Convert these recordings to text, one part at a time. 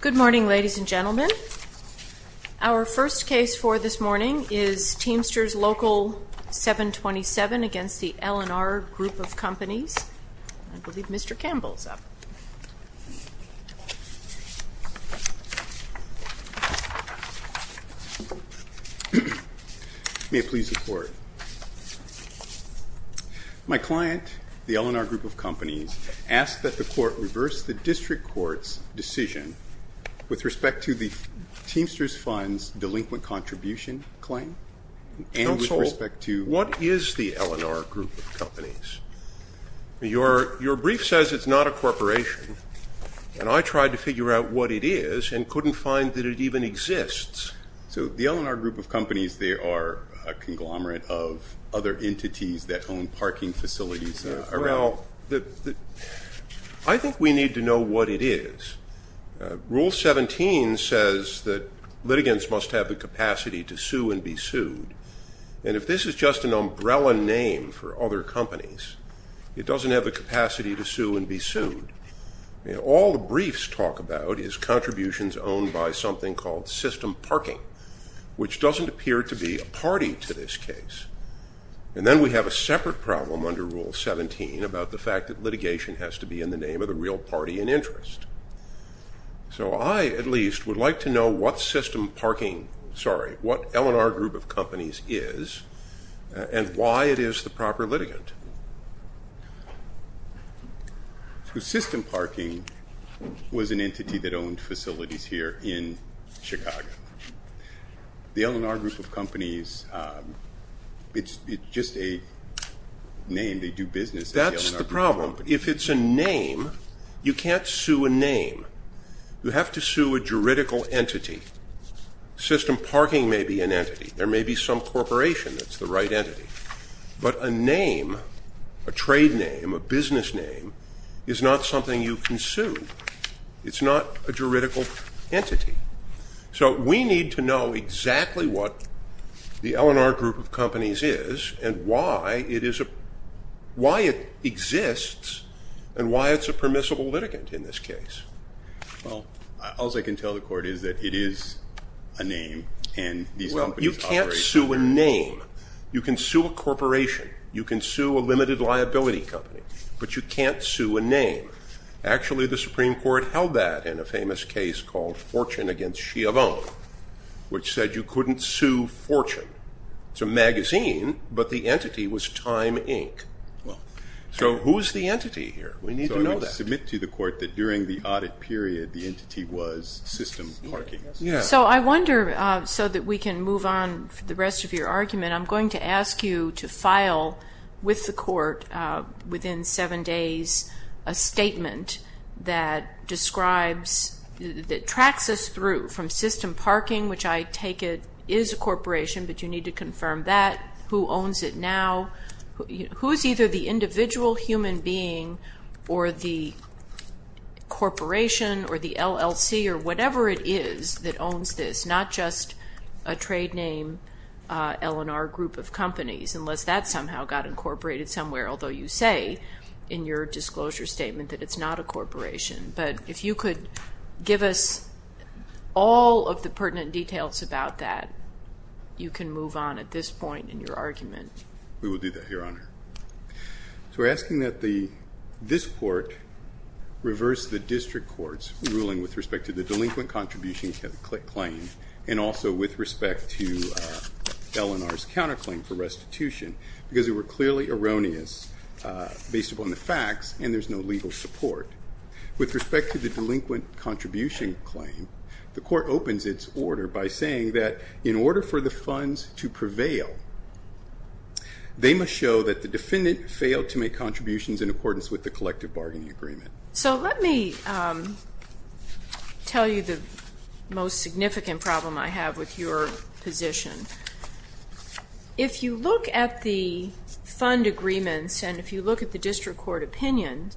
Good morning, ladies and gentlemen. Our first case for this morning is Teamsters Local No. 727 v. L&R Group of Companies. I believe Mr. Campbell is up. May it please the Court. My client, the L&R Group of Companies, asked that the Court reverse the District Court's decision with respect to the Teamsters Fund's delinquent contribution claim and with respect to— Counsel, what is the L&R Group of Companies? Your brief says it's not a corporation, and I tried to figure out what it is and couldn't find that it even exists. So the L&R Group of Companies, they are a conglomerate of other entities that own parking facilities around— Well, I think we need to know what it is. Rule 17 says that litigants must have the capacity to sue and be sued. And if this is just an umbrella name for other companies, it doesn't have the capacity to sue and be sued. All the briefs talk about is contributions owned by something called system parking, which doesn't appear to be a party to this case. And then we have a separate problem under Rule 17 about the fact that litigation has to be in the name of the real party in interest. So I, at least, would like to know what system parking—sorry, what L&R Group of Companies is and why it is the proper litigant. So system parking was an entity that owned facilities here in Chicago. The L&R Group of Companies, it's just a name. They do business at the L&R Group of Companies. That's the problem. If it's a name, you can't sue a name. You have to sue a juridical entity. System parking may be an entity. There may be some corporation that's the right entity. But a name, a trade name, a business name, is not something you can sue. It's not a juridical entity. So we need to know exactly what the L&R Group of Companies is and why it exists and why it's a permissible litigant in this case. Well, all I can tell the court is that it is a name, and these companies operate— You can sue a corporation. You can sue a limited liability company. But you can't sue a name. Actually, the Supreme Court held that in a famous case called Fortune v. Schiavone, which said you couldn't sue Fortune. It's a magazine, but the entity was Time, Inc. So who is the entity here? We need to know that. So I would submit to the court that during the audit period, the entity was system parking. So I wonder, so that we can move on for the rest of your argument, I'm going to ask you to file with the court within seven days a statement that describes, that tracks us through from system parking, which I take it is a corporation, but you need to confirm that. Who owns it now? Who is either the individual human being or the corporation or the LLC or whatever it is that owns this, not just a trade name L&R group of companies, unless that somehow got incorporated somewhere, although you say in your disclosure statement that it's not a corporation. But if you could give us all of the pertinent details about that, you can move on at this point in your argument. We will do that, Your Honor. So we're asking that this court reverse the district court's ruling with respect to the delinquent contribution claim and also with respect to L&R's counterclaim for restitution, because they were clearly erroneous based upon the facts and there's no legal support. With respect to the delinquent contribution claim, the court opens its order by saying that in order for the funds to prevail, they must show that the defendant failed to make contributions in accordance with the collective bargaining agreement. So let me tell you the most significant problem I have with your position. If you look at the fund agreements and if you look at the district court opinion,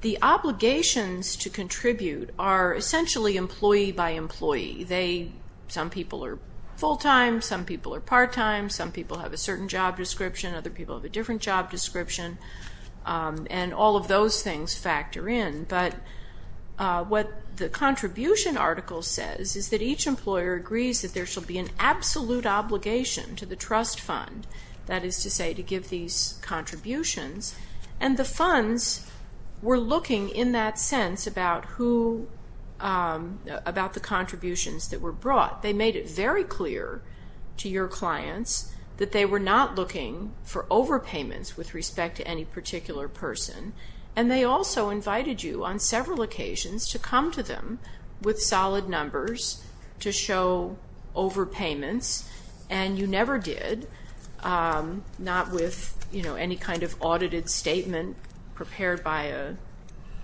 the obligations to contribute are essentially employee by employee. Some people are full-time, some people are part-time, some people have a certain job description, other people have a different job description, and all of those things factor in. But what the contribution article says is that each employer agrees that there should be an absolute obligation to the trust fund, that is to say to give these contributions, and the funds were looking in that sense about the contributions that were brought. They made it very clear to your clients that they were not looking for overpayments with respect to any particular person, and they also invited you on several occasions to come to them with solid numbers to show overpayments, and you never did, not with any kind of audited statement prepared by a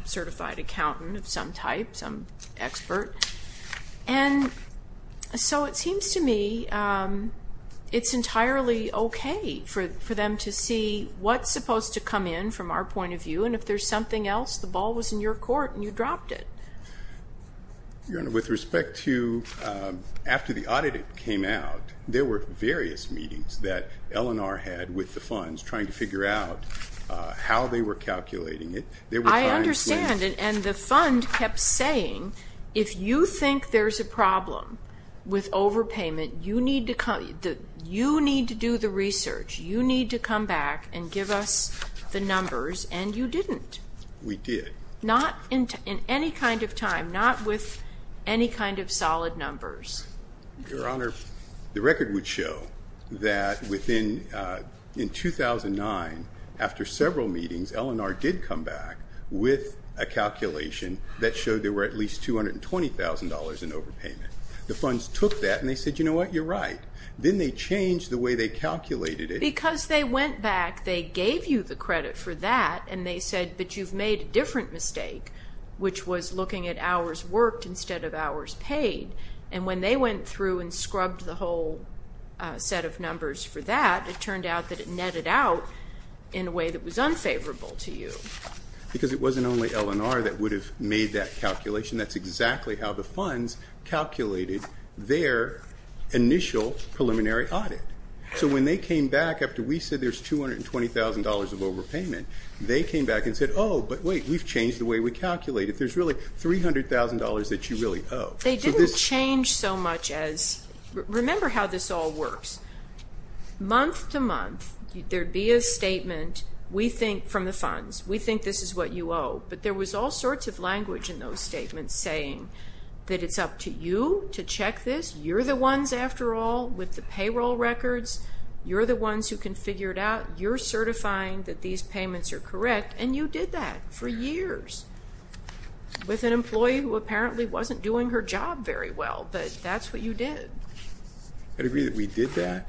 certified accountant of some type, some expert. And so it seems to me it's entirely okay for them to see what's supposed to come in from our point of view, and if there's something else, the ball was in your court and you dropped it. With respect to after the audited came out, there were various meetings that L&R had with the funds trying to figure out how they were calculating it. I understand, and the fund kept saying if you think there's a problem with overpayment, you need to do the research, you need to come back and give us the numbers, and you didn't. We did. Not in any kind of time, not with any kind of solid numbers. Your Honor, the record would show that within 2009, after several meetings, L&R did come back with a calculation that showed there were at least $220,000 in overpayment. The funds took that and they said, you know what, you're right. Then they changed the way they calculated it. Because they went back, they gave you the credit for that, and they said, but you've made a different mistake, which was looking at hours worked instead of hours paid. And when they went through and scrubbed the whole set of numbers for that, it turned out that it netted out in a way that was unfavorable to you. Because it wasn't only L&R that would have made that calculation. That's exactly how the funds calculated their initial preliminary audit. So when they came back after we said there's $220,000 of overpayment, they came back and said, oh, but wait, we've changed the way we calculated. There's really $300,000 that you really owe. They didn't change so much as, remember how this all works. Month to month, there'd be a statement from the funds. We think this is what you owe. But there was all sorts of language in those statements saying that it's up to you to check this. You're the ones, after all, with the payroll records. You're the ones who can figure it out. You're certifying that these payments are correct. And you did that for years with an employee who apparently wasn't doing her job very well. But that's what you did. I agree that we did that.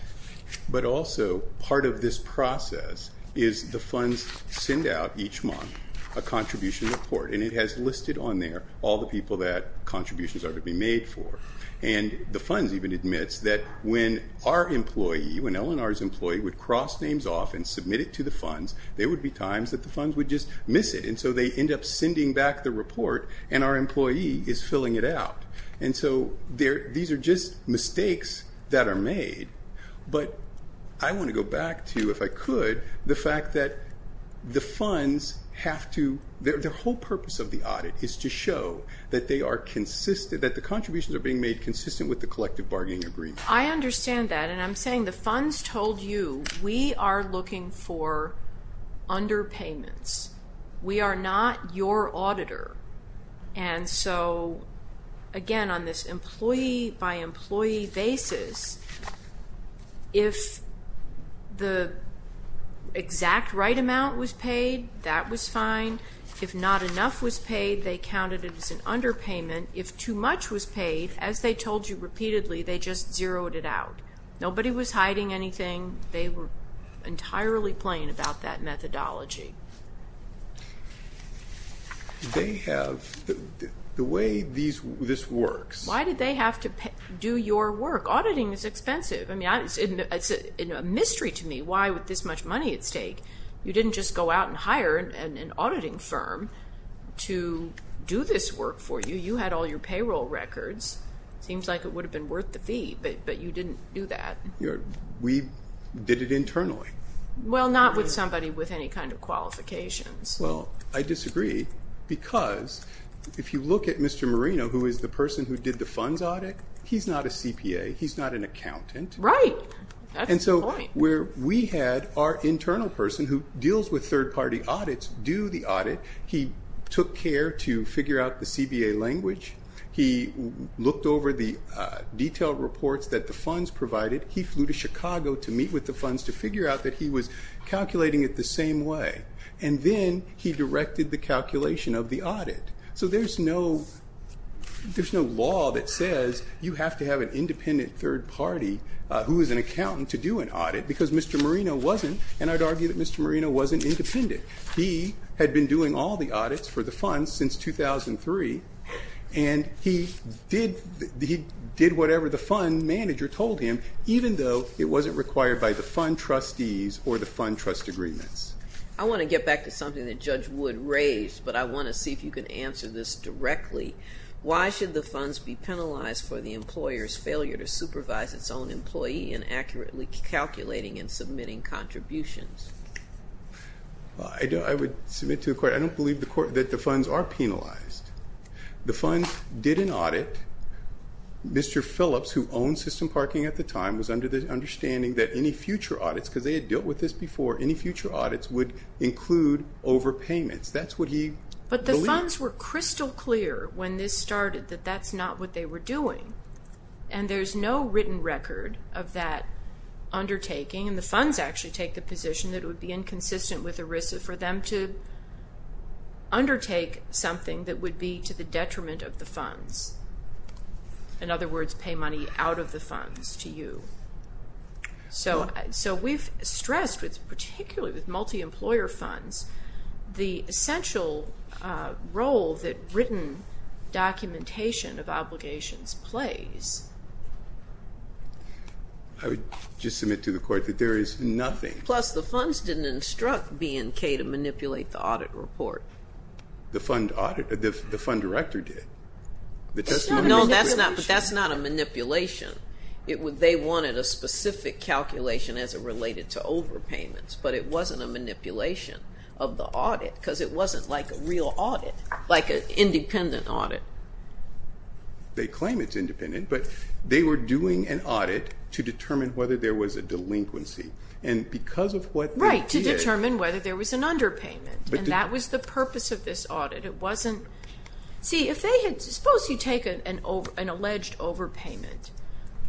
But also part of this process is the funds send out each month a contribution report, and it has listed on there all the people that contributions are to be made for. And the funds even admits that when our employee, when Eleanor's employee, would cross names off and submit it to the funds, there would be times that the funds would just miss it. And so they end up sending back the report, and our employee is filling it out. And so these are just mistakes that are made. But I want to go back to, if I could, the fact that the funds have to ‑‑ I understand that. And I'm saying the funds told you we are looking for underpayments. We are not your auditor. And so, again, on this employee by employee basis, if the exact right amount was paid, that was fine. If not enough was paid, they counted it as an underpayment. If too much was paid, as they told you repeatedly, they just zeroed it out. Nobody was hiding anything. They were entirely plain about that methodology. They have ‑‑ the way this works ‑‑ Why did they have to do your work? Auditing is expensive. It's a mystery to me why with this much money at stake. You didn't just go out and hire an auditing firm to do this work for you. If you had all your payroll records, it seems like it would have been worth the fee. But you didn't do that. We did it internally. Well, not with somebody with any kind of qualifications. Well, I disagree. Because if you look at Mr. Marino, who is the person who did the funds audit, he's not a CPA. He's not an accountant. Right. That's the point. He took care to figure out the CBA language. He looked over the detailed reports that the funds provided. He flew to Chicago to meet with the funds to figure out that he was calculating it the same way. And then he directed the calculation of the audit. So there's no law that says you have to have an independent third party who is an accountant to do an audit. Because Mr. Marino wasn't, and I'd argue that Mr. Marino wasn't independent. He had been doing all the audits for the funds since 2003, and he did whatever the fund manager told him, even though it wasn't required by the fund trustees or the fund trust agreements. I want to get back to something that Judge Wood raised, but I want to see if you can answer this directly. Why should the funds be penalized for the employer's failure to supervise its own employee in accurately calculating and submitting contributions? I would submit to the court, I don't believe that the funds are penalized. The funds did an audit. Mr. Phillips, who owned system parking at the time, was under the understanding that any future audits, because they had dealt with this before, any future audits would include overpayments. That's what he believed. But the funds were crystal clear when this started that that's not what they were doing. And there's no written record of that undertaking. And the funds actually take the position that it would be inconsistent with ERISA for them to undertake something that would be to the detriment of the funds. In other words, pay money out of the funds to you. So we've stressed, particularly with multi-employer funds, the essential role that written documentation of obligations plays. I would just submit to the court that there is nothing. Plus, the funds didn't instruct B&K to manipulate the audit report. The fund director did. No, that's not a manipulation. They wanted a specific calculation as it related to overpayments, but it wasn't a manipulation of the audit because it wasn't like a real audit, like an independent audit. They claim it's independent, but they were doing an audit to determine whether there was a delinquency. Right, to determine whether there was an underpayment. And that was the purpose of this audit. Suppose you take an alleged overpayment.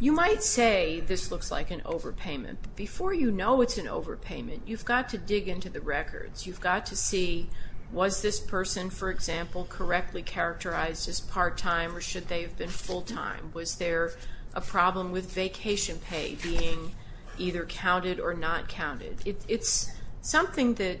You might say this looks like an overpayment. Before you know it's an overpayment, you've got to dig into the records. You've got to see, was this person, for example, correctly characterized as part-time or should they have been full-time? Was there a problem with vacation pay being either counted or not counted? It's something that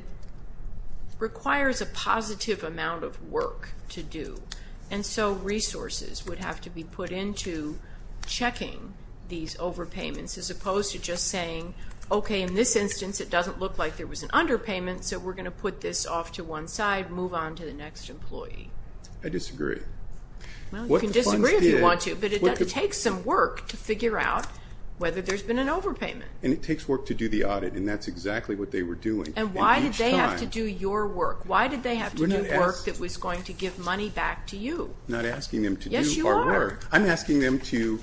requires a positive amount of work to do, and so resources would have to be put into checking these overpayments, as opposed to just saying, okay, in this instance it doesn't look like there was an underpayment, so we're going to put this off to one side, move on to the next employee. I disagree. Well, you can disagree if you want to, but it takes some work to figure out whether there's been an overpayment. And it takes work to do the audit, and that's exactly what they were doing. And why did they have to do your work? Why did they have to do work that was going to give money back to you? I'm not asking them to do our work. Yes, you are. I'm asking them to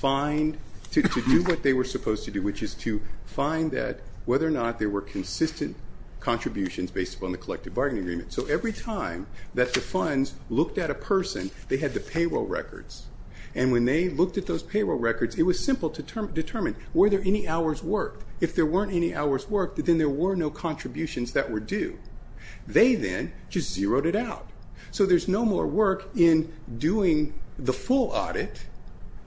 do what they were supposed to do, which is to find that whether or not there were consistent contributions based upon the collective bargaining agreement. So every time that the funds looked at a person, they had the payroll records, and when they looked at those payroll records, it was simple to determine, were there any hours worked? If there weren't any hours worked, then there were no contributions that were due. They then just zeroed it out. So there's no more work in doing the full audit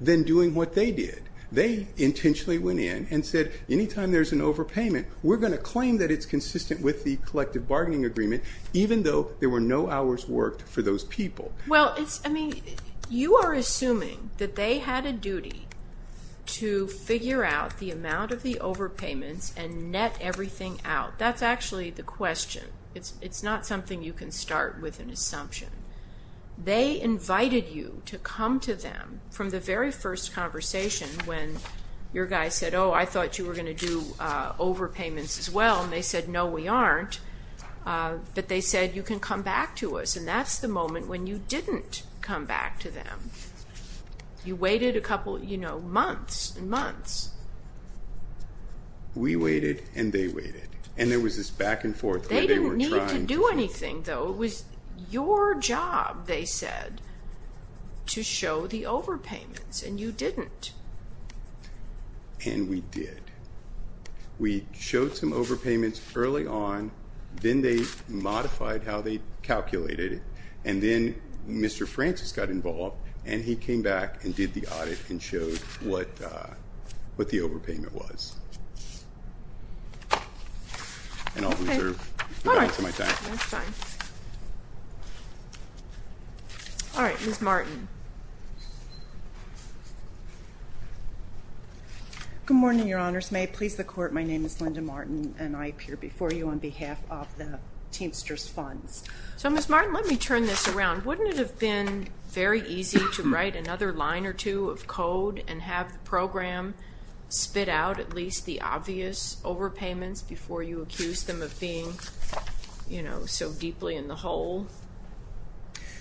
than doing what they did. They intentionally went in and said, anytime there's an overpayment, we're going to claim that it's consistent with the collective bargaining agreement, even though there were no hours worked for those people. Well, you are assuming that they had a duty to figure out the amount of the overpayments and net everything out. That's actually the question. It's not something you can start with an assumption. They invited you to come to them from the very first conversation when your guy said, oh, I thought you were going to do overpayments as well. And they said, no, we aren't. But they said, you can come back to us. And that's the moment when you didn't come back to them. You waited a couple months and months. We waited and they waited. And there was this back and forth where they were trying to do. They didn't need to do anything, though. It was your job, they said, to show the overpayments, and you didn't. And we did. We showed some overpayments early on. Then they modified how they calculated it. And then Mr. Francis got involved, and he came back and did the audit and showed what the overpayment was. And I'll reserve the balance of my time. That's fine. All right, Ms. Martin. Good morning, Your Honors. May it please the Court, my name is Linda Martin, and I appear before you on behalf of the Teamsters Funds. So, Ms. Martin, let me turn this around. And have the program spit out at least the obvious overpayments before you accuse them of being, you know, so deeply in the hole?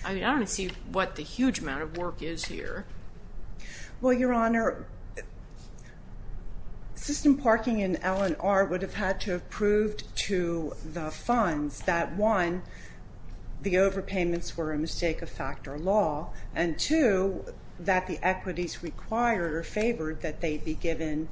I mean, I don't see what the huge amount of work is here. Well, Your Honor, system parking and L&R would have had to have proved to the funds that, one, the overpayments were a mistake of factor law, and, two, that the equities required or favored that they be given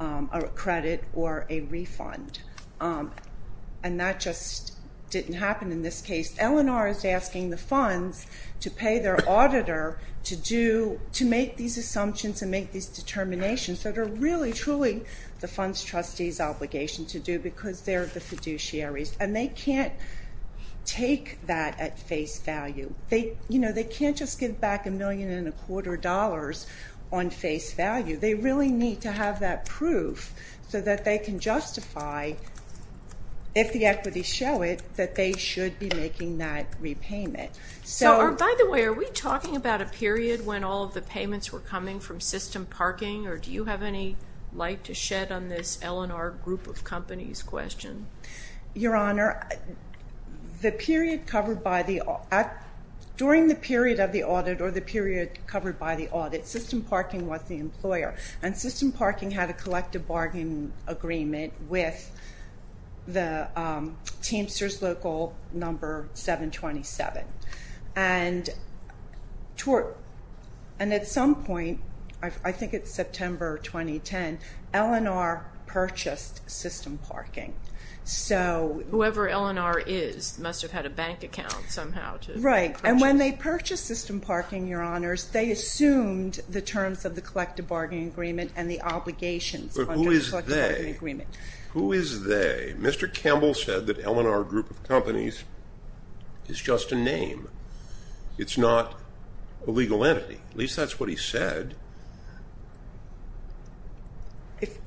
a credit or a refund. And that just didn't happen in this case. L&R is asking the funds to pay their auditor to make these assumptions and make these determinations that are really, truly the funds' trustees' obligation to do because they're the fiduciaries. And they can't take that at face value. You know, they can't just give back a million and a quarter dollars on face value. They really need to have that proof so that they can justify, if the equities show it, that they should be making that repayment. So, by the way, are we talking about a period when all of the payments were coming from system parking? Or do you have any light to shed on this L&R group of companies question? Your Honor, the period covered by the audit, during the period of the audit or the period covered by the audit, system parking was the employer. And system parking had a collective bargain agreement with Teamsters Local number 727. And at some point, I think it's September 2010, L&R purchased system parking. Whoever L&R is must have had a bank account somehow. Right. And when they purchased system parking, Your Honors, they assumed the terms of the collective bargain agreement and the obligations under the collective bargain agreement. But who is they? Who is they? Mr. Campbell said that L&R group of companies is just a name. It's not a legal entity. At least that's what he said.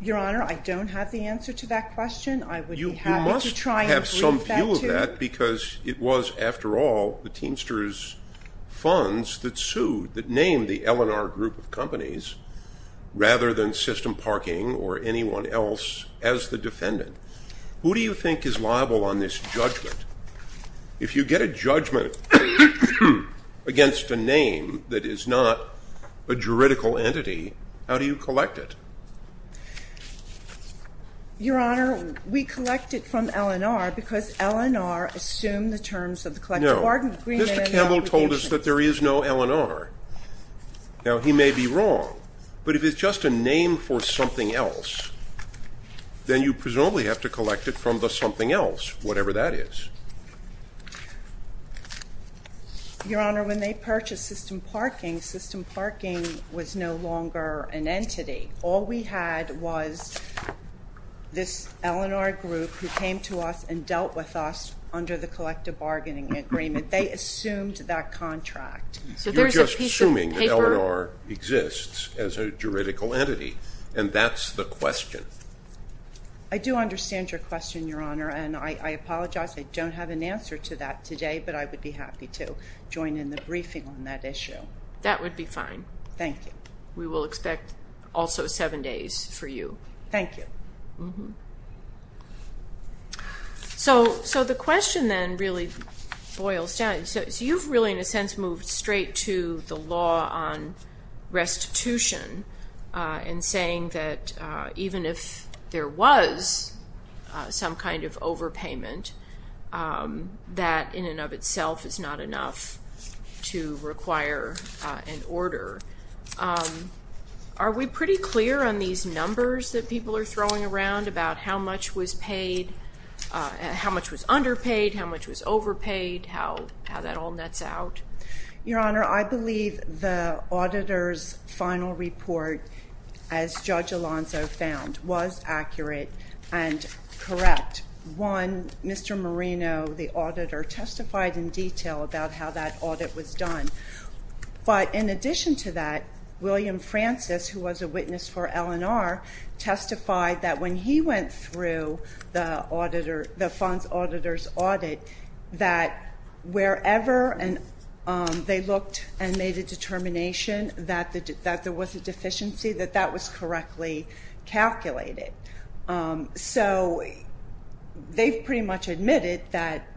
Your Honor, I don't have the answer to that question. You must have some view of that because it was, after all, the Teamsters funds that sued, that named the L&R group of companies rather than system parking or anyone else as the defendant. Who do you think is liable on this judgment? If you get a judgment against a name that is not a juridical entity, how do you collect it? Your Honor, we collect it from L&R because L&R assumed the terms of the collective bargain agreement. No. Mr. Campbell told us that there is no L&R. Now, he may be wrong, but if it's just a name for something else, then you presumably have to collect it from the something else, whatever that is. Your Honor, when they purchased system parking, system parking was no longer an entity. All we had was this L&R group who came to us and dealt with us under the collective bargaining agreement. They assumed that contract. You're just assuming that L&R exists as a juridical entity, and that's the question. I do understand your question, Your Honor, and I apologize. I don't have an answer to that today, but I would be happy to join in the briefing on that issue. That would be fine. Thank you. We will expect also seven days for you. Thank you. So the question then really boils down. So you've really, in a sense, moved straight to the law on restitution and saying that even if there was some kind of overpayment, that in and of itself is not enough to require an order. Are we pretty clear on these numbers that people are throwing around about how much was underpaid, how much was overpaid, how that all nets out? Your Honor, I believe the auditor's final report, as Judge Alonzo found, was accurate and correct. One, Mr. Marino, the auditor, testified in detail about how that audit was done. But in addition to that, William Francis, who was a witness for L&R, testified that when he went through the funds auditor's audit, that wherever they looked and made a determination that there was a deficiency, that that was correctly calculated. So they pretty much admitted that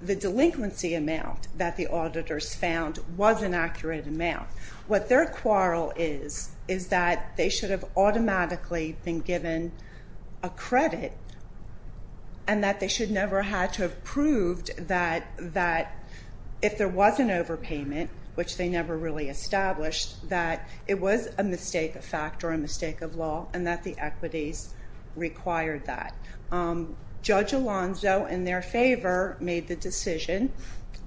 the delinquency amount that the auditors found was an accurate amount. What their quarrel is is that they should have automatically been given a credit and that they should never have had to have proved that if there was an overpayment, which they never really established, that it was a mistake of fact or a mistake of law and that the equities required that. Judge Alonzo, in their favor, made the decision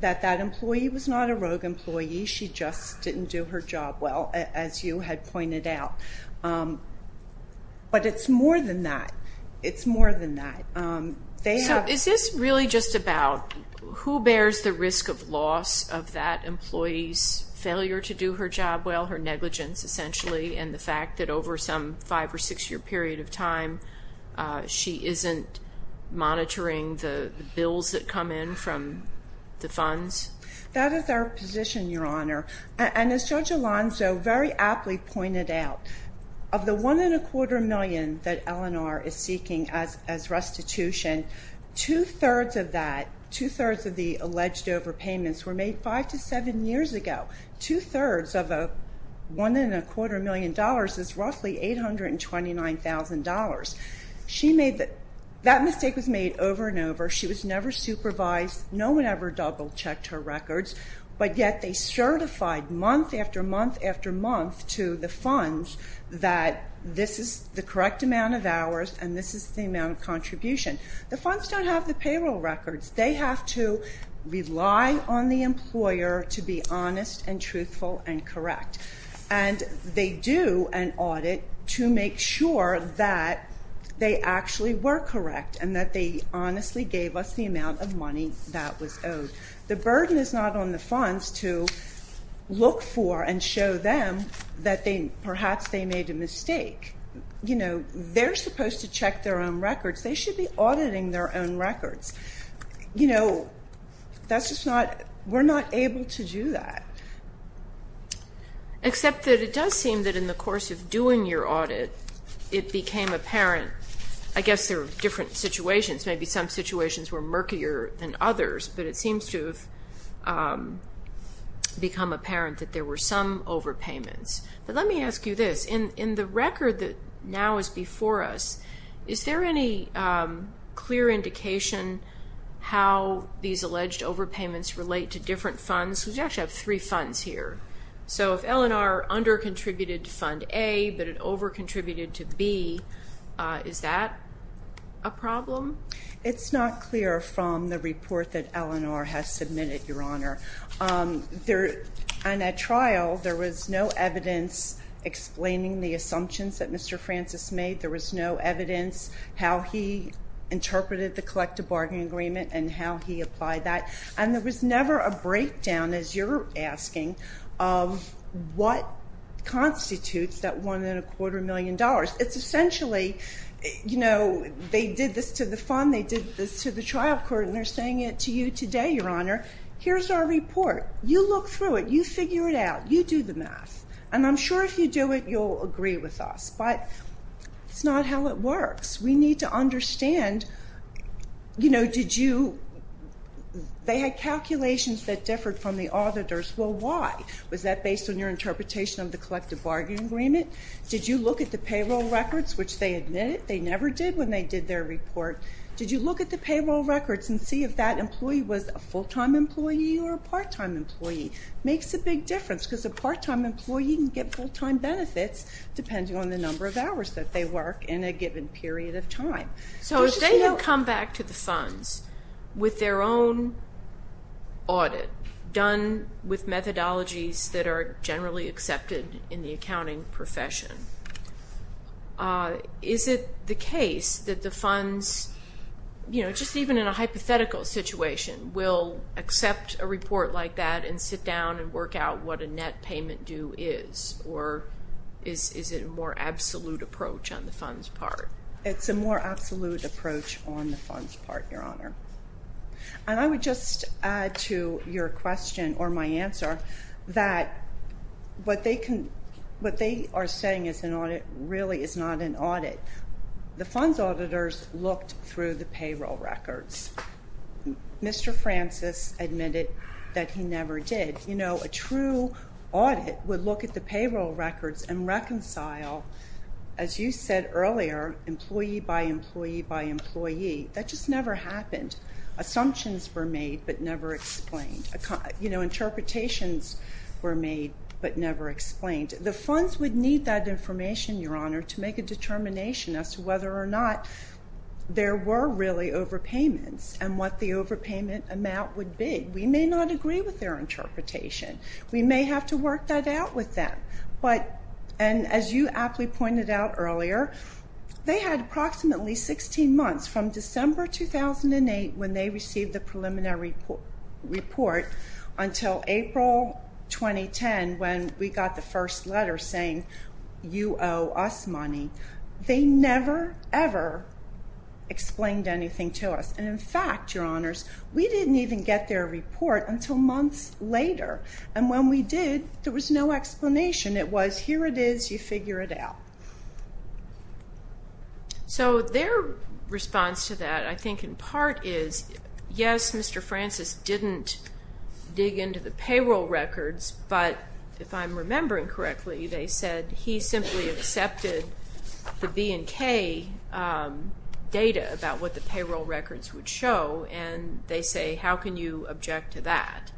that that employee was not a rogue employee. She just didn't do her job well, as you had pointed out. But it's more than that. It's more than that. So is this really just about who bears the risk of loss of that employee's failure to do her job well, her negligence essentially, and the fact that over some five- or six-year period of time she isn't monitoring the bills that come in from the funds? That is our position, Your Honor. And as Judge Alonzo very aptly pointed out, of the $1.25 million that L&R is seeking as restitution, two-thirds of that, two-thirds of the alleged overpayments were made five to seven years ago. Two-thirds of the $1.25 million is roughly $829,000. That mistake was made over and over. She was never supervised. No one ever double-checked her records. But yet they certified month after month after month to the funds that this is the correct amount of hours and this is the amount of contribution. The funds don't have the payroll records. They have to rely on the employer to be honest and truthful and correct. And they do an audit to make sure that they actually were correct and that they honestly gave us the amount of money that was owed. The burden is not on the funds to look for and show them that perhaps they made a mistake. They're supposed to check their own records. They should be auditing their own records. You know, that's just not, we're not able to do that. Except that it does seem that in the course of doing your audit, it became apparent, I guess there were different situations. Maybe some situations were murkier than others, but it seems to have become apparent that there were some overpayments. But let me ask you this. In the record that now is before us, is there any clear indication how these alleged overpayments relate to different funds? Because you actually have three funds here. So if L&R under-contributed to Fund A but it over-contributed to B, is that a problem? It's not clear from the report that L&R has submitted, Your Honor. And at trial, there was no evidence explaining the assumptions that Mr. Francis made. There was no evidence how he interpreted the collective bargaining agreement and how he applied that. And there was never a breakdown, as you're asking, of what constitutes that one and a quarter million dollars. It's essentially, you know, they did this to the fund, they did this to the trial court, and they're saying it to you today, Your Honor. Here's our report. You look through it. You figure it out. You do the math. And I'm sure if you do it, you'll agree with us. But it's not how it works. We need to understand, you know, did you – they had calculations that differed from the auditors. Well, why? Was that based on your interpretation of the collective bargaining agreement? Did you look at the payroll records, which they admitted they never did when they did their report? Did you look at the payroll records and see if that employee was a full-time employee or a part-time employee? It makes a big difference because a part-time employee can get full-time benefits depending on the number of hours that they work in a given period of time. So if they had come back to the funds with their own audit, done with methodologies that are generally accepted in the accounting profession, is it the case that the funds, you know, just even in a hypothetical situation, will accept a report like that and sit down and work out what a net payment due is? Or is it a more absolute approach on the funds part? It's a more absolute approach on the funds part, Your Honor. And I would just add to your question, or my answer, that what they are saying is an audit really is not an audit. The funds auditors looked through the payroll records. Mr. Francis admitted that he never did. You know, a true audit would look at the payroll records and reconcile, as you said earlier, employee by employee by employee. That just never happened. Assumptions were made but never explained. You know, interpretations were made but never explained. The funds would need that information, Your Honor, to make a determination as to whether or not there were really overpayments and what the overpayment amount would be. We may not agree with their interpretation. We may have to work that out with them. And as you aptly pointed out earlier, they had approximately 16 months from December 2008 when they received the preliminary report until April 2010 when we got the first letter saying you owe us money. They never, ever explained anything to us. And, in fact, Your Honors, we didn't even get their report until months later. And when we did, there was no explanation. It was here it is, you figure it out. So their response to that, I think, in part is, yes, Mr. Francis didn't dig into the payroll records, but if I'm remembering correctly, they said he simply accepted the B&K data about what the payroll records would show. And they say, how can you object to that?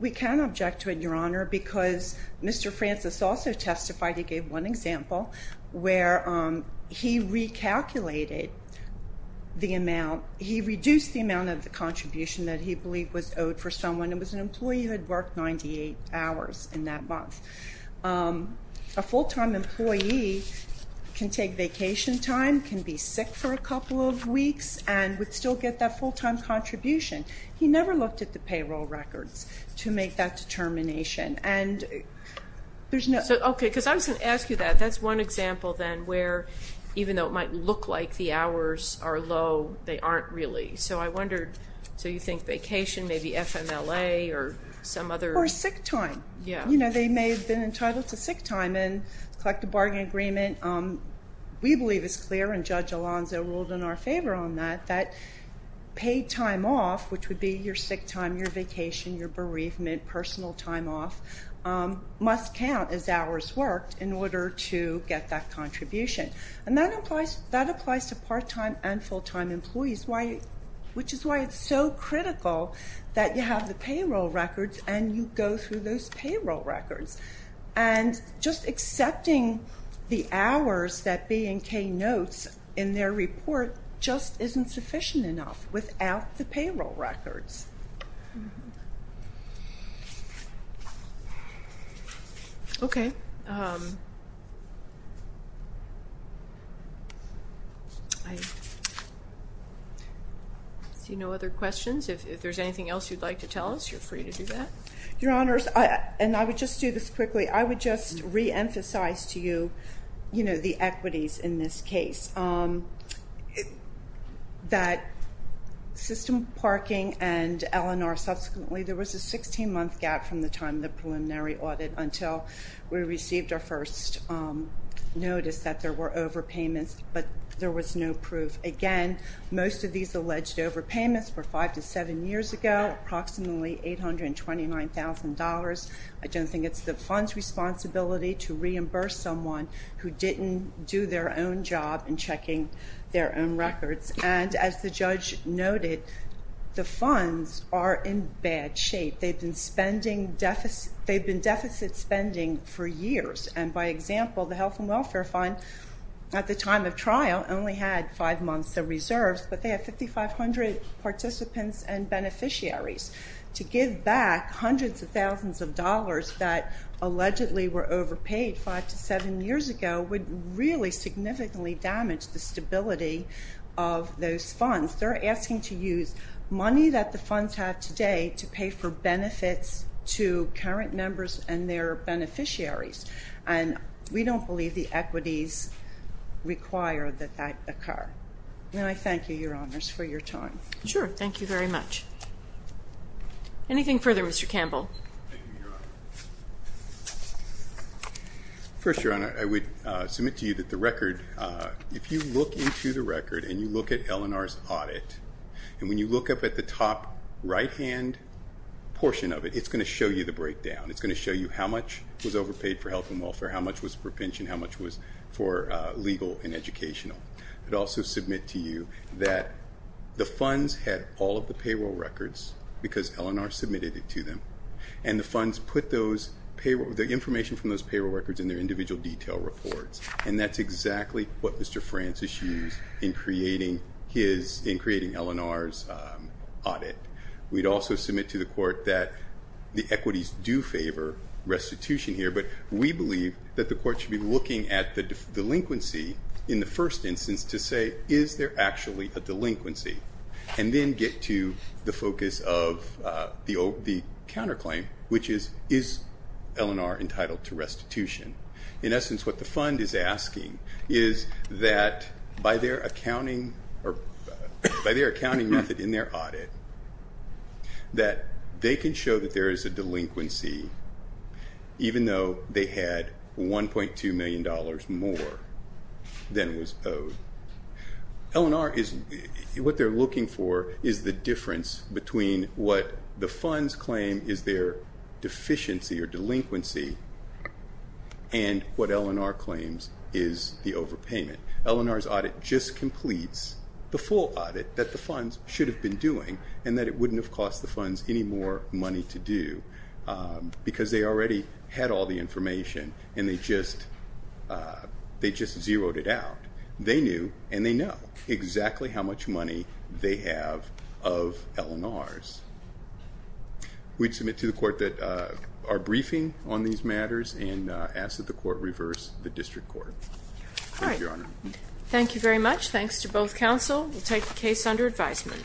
We can object to it, Your Honor, because Mr. Francis also testified. He gave one example where he recalculated the amount. He reduced the amount of the contribution that he believed was owed for someone. It was an employee who had worked 98 hours in that month. A full-time employee can take vacation time, can be sick for a couple of weeks, and would still get that full-time contribution. He never looked at the payroll records to make that determination. Okay, because I was going to ask you that. That's one example then where, even though it might look like the hours are low, they aren't really. So I wondered, so you think vacation, maybe FMLA or some other? Or sick time. You know, they may have been entitled to sick time. In the collective bargaining agreement, we believe it's clear, and Judge Alonzo ruled in our favor on that, that paid time off, which would be your sick time, your vacation, your bereavement, your personal time off, must count as hours worked in order to get that contribution. And that applies to part-time and full-time employees, which is why it's so critical that you have the payroll records and you go through those payroll records. And just accepting the hours that B and K notes in their report just isn't sufficient enough without the payroll records. Okay. I see no other questions. If there's anything else you'd like to tell us, you're free to do that. Your Honors, and I would just do this quickly, I would just reemphasize to you, you know, the equities in this case. That system parking and L&R subsequently, there was a 16-month gap from the time of the preliminary audit until we received our first notice that there were overpayments, but there was no proof. Again, most of these alleged overpayments were five to seven years ago, approximately $829,000. I don't think it's the fund's responsibility to reimburse someone who didn't do their own job in checking their own records. And as the judge noted, the funds are in bad shape. They've been deficit spending for years. And by example, the Health and Welfare Fund at the time of trial only had five months of reserves, but they have 5,500 participants and beneficiaries. To give back hundreds of thousands of dollars that allegedly were overpaid five to seven years ago would really significantly damage the stability of those funds. They're asking to use money that the funds have today to pay for benefits to current members and their beneficiaries. And we don't believe the equities require that that occur. And I thank you, Your Honors, for your time. Sure, thank you very much. Anything further, Mr. Campbell? First, Your Honor, I would submit to you that the record, if you look into the record and you look at L&R's audit, and when you look up at the top right-hand portion of it, it's going to show you the breakdown. It's going to show you how much was overpaid for health and welfare, how much was for pension, how much was for legal and educational. I would also submit to you that the funds had all of the payroll records because L&R submitted it to them, and the funds put the information from those payroll records in their individual detail reports, and that's exactly what Mr. Francis used in creating L&R's audit. We'd also submit to the Court that the equities do favor restitution here, but we believe that the Court should be looking at the delinquency in the first instance to say, is there actually a delinquency, and then get to the focus of the counterclaim, which is, is L&R entitled to restitution? In essence, what the fund is asking is that by their accounting method in their audit, that they can show that there is a delinquency even though they had $1.2 million more than was owed. What they're looking for is the difference between what the funds claim is their deficiency or delinquency and what L&R claims is the overpayment. L&R's audit just completes the full audit that the funds should have been doing and that it wouldn't have cost the funds any more money to do because they already had all the information and they just zeroed it out. They knew and they know exactly how much money they have of L&R's. We'd submit to the Court that our briefing on these matters and ask that the Court reverse the district court. Thank you, Your Honor. Thank you very much. Thanks to both counsel. We'll take the case under advisement.